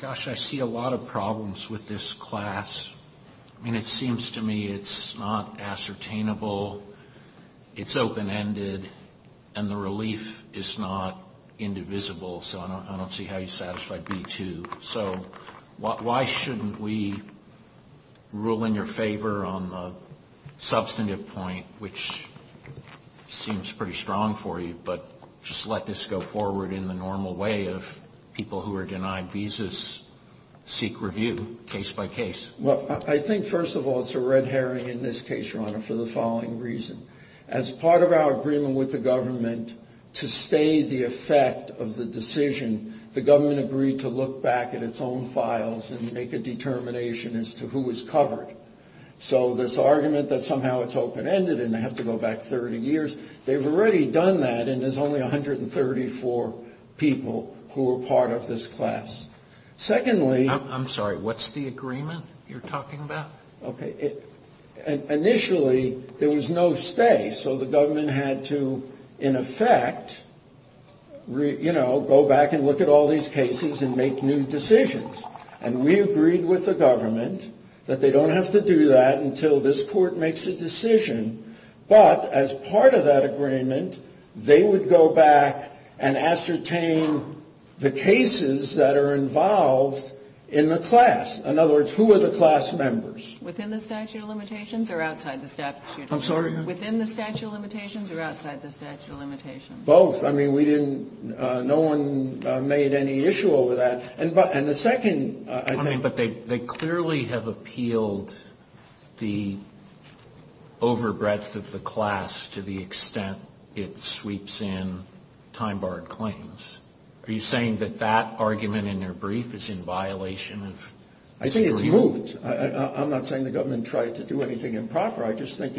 gosh, I see a lot of problems with this class. I mean, it seems to me it's not ascertainable. It's open-ended. And the relief is not indivisible. So I don't see how you satisfy B-2. So why shouldn't we rule in your favor on the substantive point, which seems pretty strong for you, but just let this go forward in the normal way of people who are denied visas seek review case by case? Well, I think, first of all, it's a red herring in this case, Your Honor, for the following reason. As part of our agreement with the government to stay the effect of the decision, the government agreed to look back at its own files and make a determination as to who was covered. So this argument that somehow it's open-ended and they have to go back 30 years, they've already done that and there's only 134 people who were part of this class. Secondly... I'm sorry. What's the agreement you're talking about? Okay. Initially, there was no stay. So the government had to, in effect, you know, go back and look at all these cases and make new decisions. And we agreed with the government that they don't have to do that until this court makes a decision. But as part of that agreement, they would go back and ascertain the cases that are involved in the class. In other words, who are the class members? Within the statute of limitations or outside the statute of limitations? I'm sorry? Within the statute of limitations or outside the statute of limitations? Both. I mean, we didn't – no one made any issue over that. And the second, I think... The breadth of the class to the extent it sweeps in time-barred claims. Are you saying that that argument in their brief is in violation of... I think it's moot. I'm not saying the government tried to do anything improper. I just think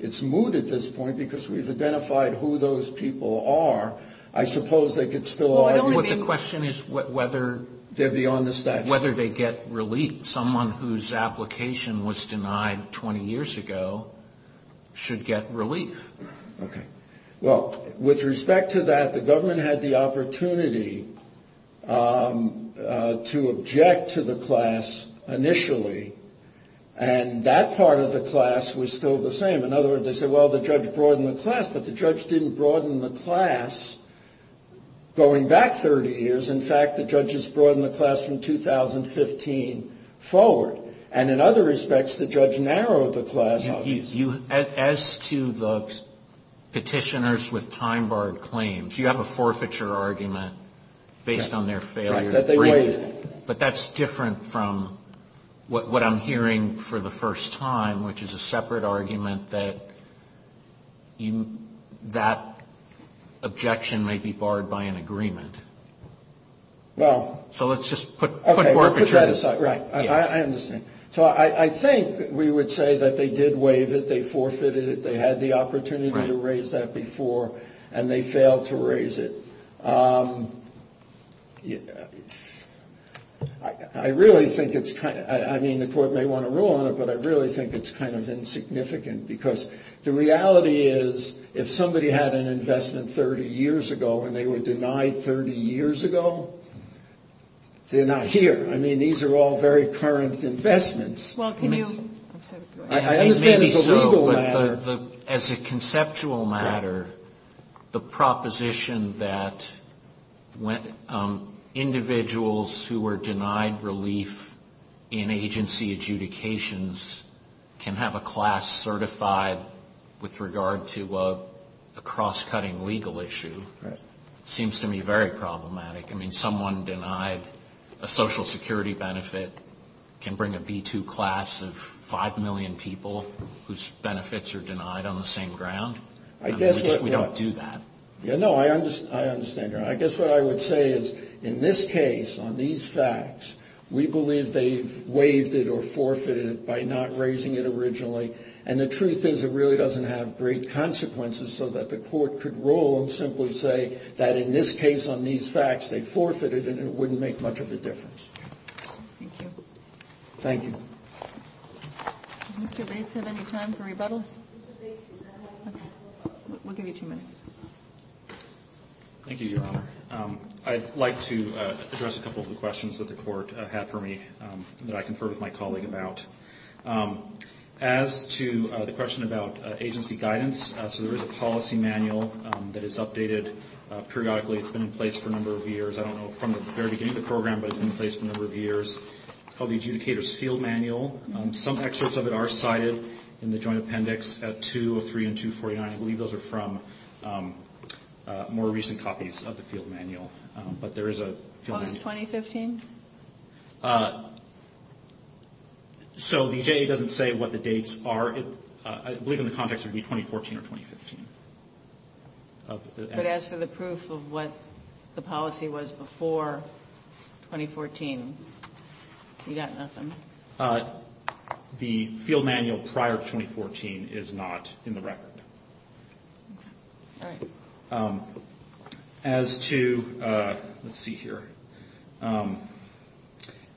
it's moot at this point because we've identified who those people are. I suppose they could still argue... Well, I don't mean... The question is whether... They're beyond the statute. Whether they get relief. Someone whose application was denied 20 years ago should get relief. Okay. Well, with respect to that, the government had the opportunity to object to the class initially. And that part of the class was still the same. In other words, they said, well, the judge broadened the class. But the judge didn't broaden the class going back 30 years. In fact, the judge has broadened the class from 2015 forward. And in other respects, the judge narrowed the class. As to the petitioners with time-barred claims, you have a forfeiture argument based on their failure. But that's different from what I'm hearing for the first time, which is a separate argument that that objection may be barred by an agreement. Well... So let's just put forfeiture... Okay. Let's put that aside. Right. I understand. So I think we would say that they did waive it. They forfeited it. They had the opportunity to raise that before. And they failed to raise it. I really think it's kind of... I mean, the court may want to rule on it, but I really think it's kind of insignificant. Because the reality is, if somebody had an investment 30 years ago and they were denied 30 years ago, they're not here. I mean, these are all very current investments. Well, can you... I understand it's a legal matter. As a conceptual matter, the proposition that individuals who were denied relief in agency adjudications can have a class certified with regard to a cross-cutting legal issue seems to me very problematic. I mean, someone denied a social security benefit can bring a B2 class of 5 million people whose benefits are denied on the same ground. I guess what... We don't do that. Yeah, no, I understand. I guess what I would say is, in this case, on these facts, we believe they've waived it or forfeited it by not raising it originally. And the truth is, it really doesn't have great consequences so that the court could rule and simply say that, in this case, on these facts, they forfeited it and it wouldn't make much of a difference. Thank you. Thank you. Does Mr. Bates have any time for rebuttal? Mr. Bates, I have one more question. We'll give you two minutes. Thank you, Your Honor. I'd like to address a couple of the questions that the court had for me that I conferred with my colleague about. As to the question about agency guidance, so there is a policy manual that is updated periodically. It's been in place for a number of years. I don't know from the very beginning of the program, but it's been in place for a number of years. It's called the Adjudicator's Field Manual. Some excerpts of it are cited in the joint appendix at 203 and 249. I believe those are from more recent copies of the field manual. But there is a... Post-2015? So the ADA doesn't say what the dates are. I believe in the context it would be 2014 or 2015. But as for the proof of what the policy was before 2014, you got nothing. The field manual prior to 2014 is not in the record. All right. As to... Let's see here.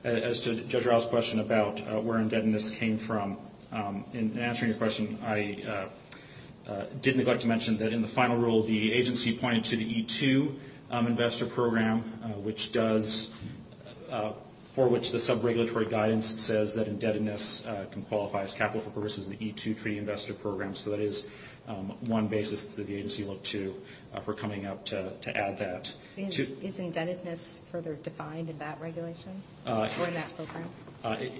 As to Judge Rouse's question about where indebtedness came from, in answering your question, I did neglect to mention that in the final rule, the agency pointed to the E-2 investor program, for which the sub-regulatory guidance says that indebtedness can qualify as capital for purposes of the E-2 Treaty Investor Program. So that is one basis that the agency looked to for coming up to add that. Is indebtedness further defined in that regulation or in that program?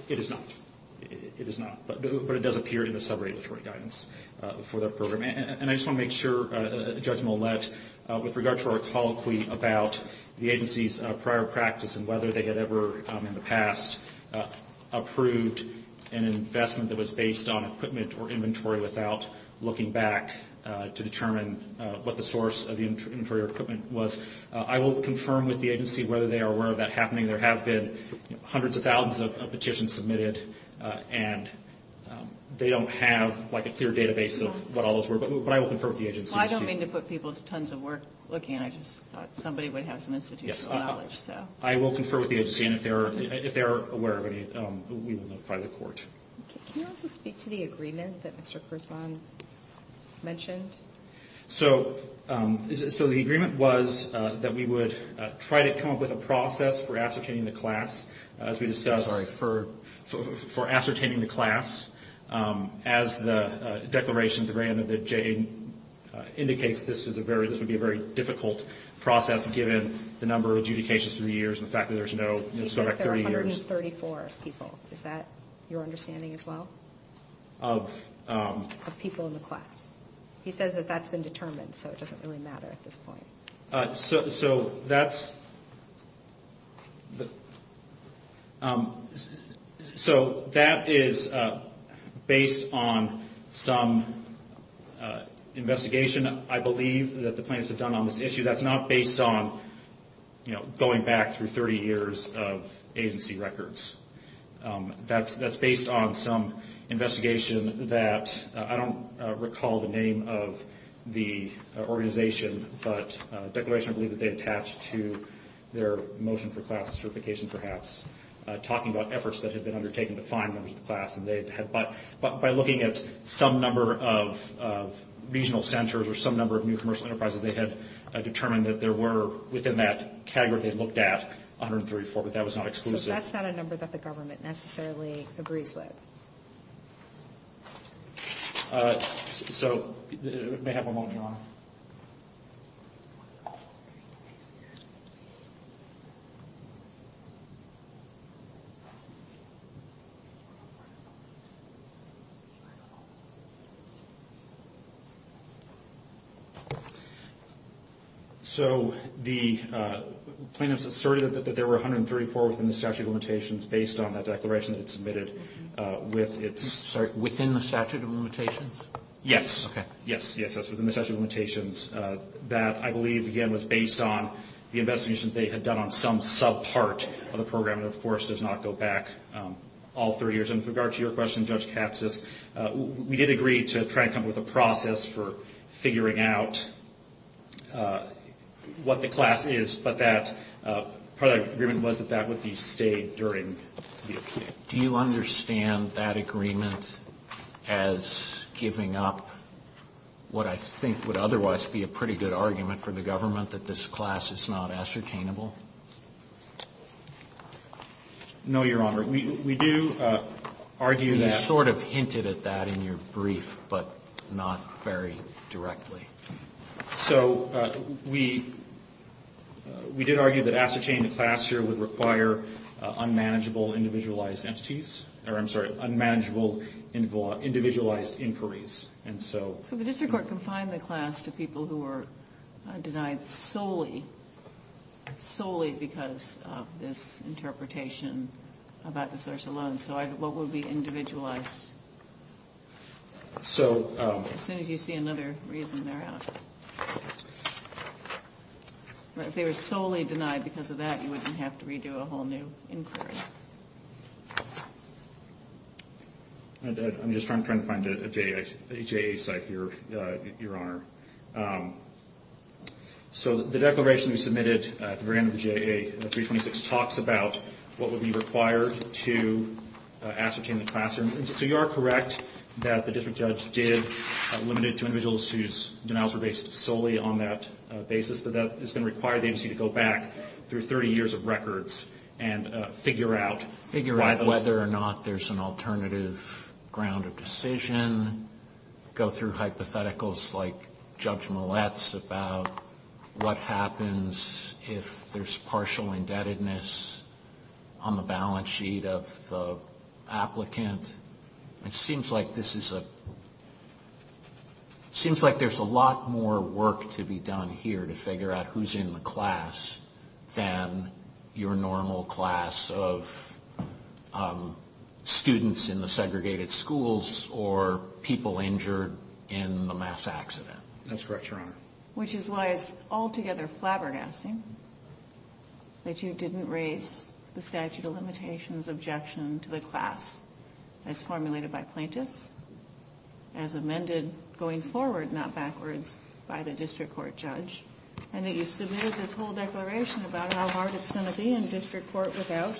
It is not. It is not. But it does appear in the sub-regulatory guidance for that program. And I just want to make sure, Judge Millett, with regard to our colloquy about the agency's prior practice and whether they had ever in the past approved an investment that was based on equipment or inventory without looking back to determine what the source of the inventory or equipment was, I will confirm with the agency whether they are aware of that happening. There have been hundreds of thousands of petitions submitted, and they don't have like a clear database of what all those were. But I will confirm with the agency. Well, I don't mean to put people to tons of work looking. I just thought somebody would have some institutional knowledge. I will confirm with the agency. And if they are aware of any, we will notify the court. Can you also speak to the agreement that Mr. Kurzweil mentioned? So the agreement was that we would try to come up with a process for ascertaining the class, as we discussed, for ascertaining the class. As the declaration of the grant that Jay indicates, this would be a very difficult process given the number of adjudications through the years and the fact that there's no sort of 30 years. He says there are 134 people. Is that your understanding as well? Of? Of people in the class. He says that that's been determined, so it doesn't really matter at this point. So that is based on some investigation, I believe, that the plaintiffs have done on this issue. That's not based on going back through 30 years of agency records. That's based on some investigation that I don't recall the name of the organization, but a declaration, I believe, that they attached to their motion for class certification, perhaps, talking about efforts that had been undertaken to find members of the class. But by looking at some number of regional centers or some number of new commercial enterprises, they had determined that there were within that category they looked at 134, but that was not exclusive. So that's not a number that the government necessarily agrees with. So may I have a moment, Your Honor? So the plaintiffs asserted that there were 134 within the statute of limitations based on the declaration that it submitted with its... Sorry, within the statute of limitations? Yes. Okay. Yes, yes, that's within the statute of limitations. That, I believe, again, was based on the investigation they had done on some subpart of the program that, of course, does not go back all 30 years. And with regard to your question, Judge Katsas, we did agree to try to come up with a process for figuring out what the class is, but that part of the agreement was that that would be stayed during the appeal. Do you understand that agreement as giving up what I think would otherwise be a pretty good argument for the government, that this class is not ascertainable? No, Your Honor. We do argue that... You sort of hinted at that in your brief, but not very directly. So we did argue that ascertaining the class here would require unmanageable individualized entities, or I'm sorry, unmanageable individualized inquiries. So the district court confined the class to people who were denied solely because of this interpretation about the social loan, so what would be individualized? So... As soon as you see another reason, they're out. If they were solely denied because of that, you wouldn't have to redo a whole new inquiry. I'm just trying to find a JAA site here, Your Honor. So the declaration we submitted at the very end of the JAA, 326, talks about what would be required to ascertain the classroom. So you are correct that the district judge did limit it to individuals whose denials were based solely on that basis, but that is going to require the agency to go back through 30 years of records and figure out... Figure out whether or not there's an alternative ground of decision, go through hypotheticals like Judge Millett's about what happens if there's partial indebtedness on the balance sheet of the applicant. It seems like this is a... Seems like there's a lot more work to be done here to figure out who's in the class than your normal class of students in the segregated schools or people injured in the mass accident. That's correct, Your Honor. Which is why it's altogether flabbergasting that you didn't raise the statute of limitations objection to the class as formulated by plaintiffs, as amended going forward, not backwards, by the district court judge, and that you submitted this whole declaration about how hard it's going to be in district court without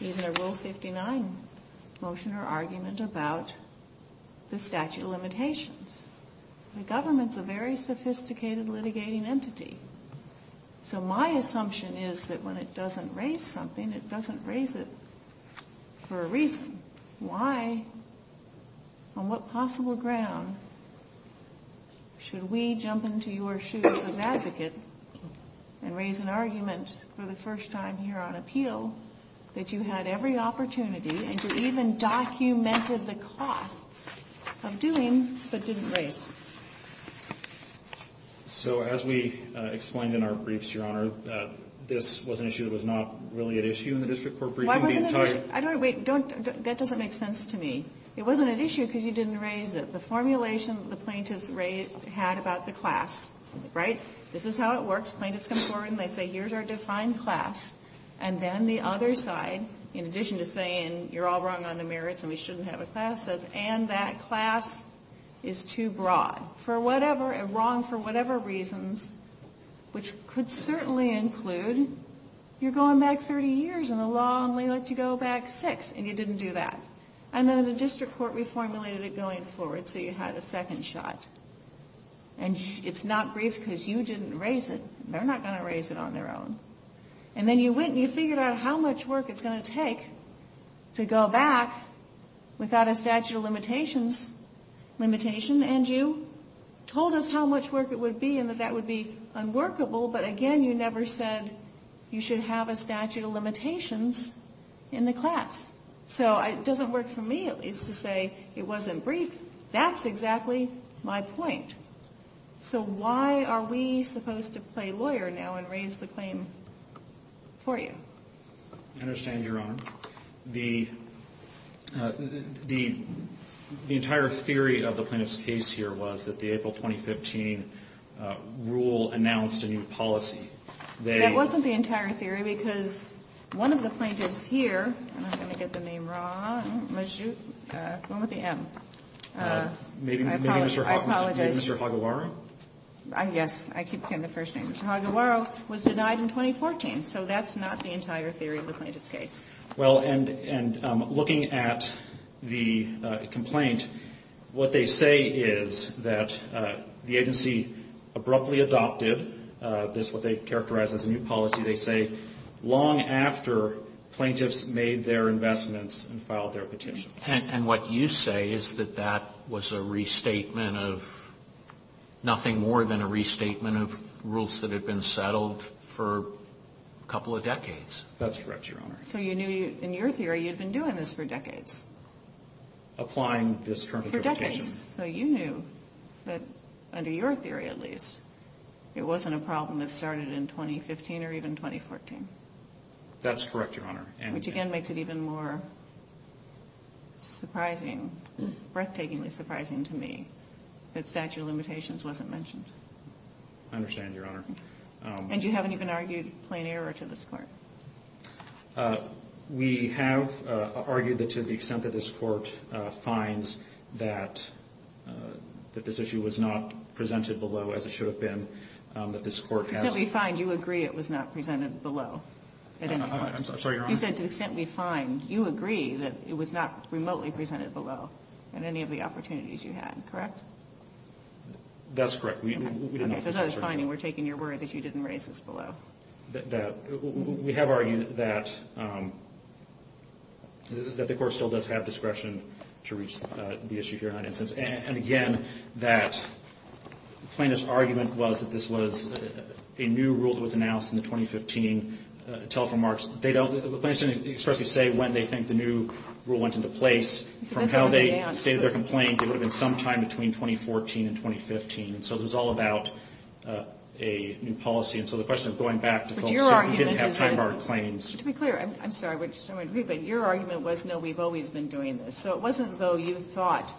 even a Rule 59 motion or argument about the statute of limitations. The government's a very sophisticated litigating entity. So my assumption is that when it doesn't raise something, it doesn't raise it for a reason. Why, on what possible ground should we jump into your shoes as advocate and raise an argument for the first time here on appeal that you had every opportunity and you even documented the costs of doing but didn't raise? So as we explained in our briefs, Your Honor, this was an issue that was not really at issue in the district court briefing. Wait, that doesn't make sense to me. It wasn't at issue because you didn't raise it. The formulation the plaintiffs had about the class, right? This is how it works. Plaintiffs come forward and they say, here's our defined class. And then the other side, in addition to saying, you're all wrong on the merits and we shouldn't have a class, says, and that class is too broad, wrong for whatever reasons, which could certainly include you're going back 30 years and the law only lets you go back six, and you didn't do that. And then the district court reformulated it going forward so you had a second shot. And it's not brief because you didn't raise it. They're not going to raise it on their own. And then you went and you figured out how much work it's going to take to go back without a statute of limitations limitation, and you told us how much work it would be and that that would be unworkable, but again you never said you should have a statute of limitations in the class. So it doesn't work for me, at least, to say it wasn't brief. That's exactly my point. So why are we supposed to play lawyer now and raise the claim for you? I understand, Your Honor. The entire theory of the plaintiff's case here was that the April 2015 rule announced a new policy. That wasn't the entire theory because one of the plaintiffs here, I'm going to get the name wrong. The one with the M. Maybe Mr. Haguaro? Yes, I keep forgetting the first name. Mr. Haguaro was denied in 2014, so that's not the entire theory of the plaintiff's case. Well, and looking at the complaint, what they say is that the agency abruptly adopted this, what they characterize as a new policy. They say long after plaintiffs made their investments and filed their petitions. And what you say is that that was a restatement of nothing more than a restatement of rules that had been settled for a couple of decades. That's correct, Your Honor. So you knew in your theory you'd been doing this for decades? Applying this current interpretation. For decades. So you knew that, under your theory at least, it wasn't a problem that started in 2015 or even 2014? That's correct, Your Honor. Which again makes it even more surprising, breathtakingly surprising to me, that statute of limitations wasn't mentioned. I understand, Your Honor. And you haven't even argued plain error to this court? We have argued that to the extent that this court finds that this issue was not presented below, as it should have been, that this court has... To the extent we find you agree it was not presented below at any point? I'm sorry, Your Honor? You said to the extent we find you agree that it was not remotely presented below at any of the opportunities you had, correct? That's correct. Okay, so as far as finding, we're taking your word that you didn't raise this below? We have argued that the court still does have discretion to reach the issue here, Your Honor. And again, that Plano's argument was that this was a new rule that was announced in the 2015 telephone marks. Plano didn't expressly say when they think the new rule went into place. From how they stated their complaint, it would have been sometime between 2014 and 2015. So it was all about a new policy. And so the question of going back to folks who didn't have time-barred claims... To be clear, I'm sorry, but your argument was no, we've always been doing this. So it wasn't though you thought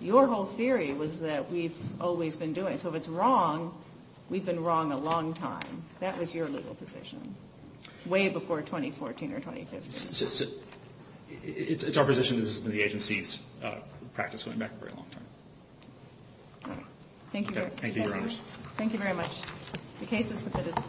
your whole theory was that we've always been doing it. So if it's wrong, we've been wrong a long time. That was your legal position way before 2014 or 2015. It's our position that this has been the agency's practice going back a very long time. Thank you, Your Honor. Thank you very much. The case is submitted.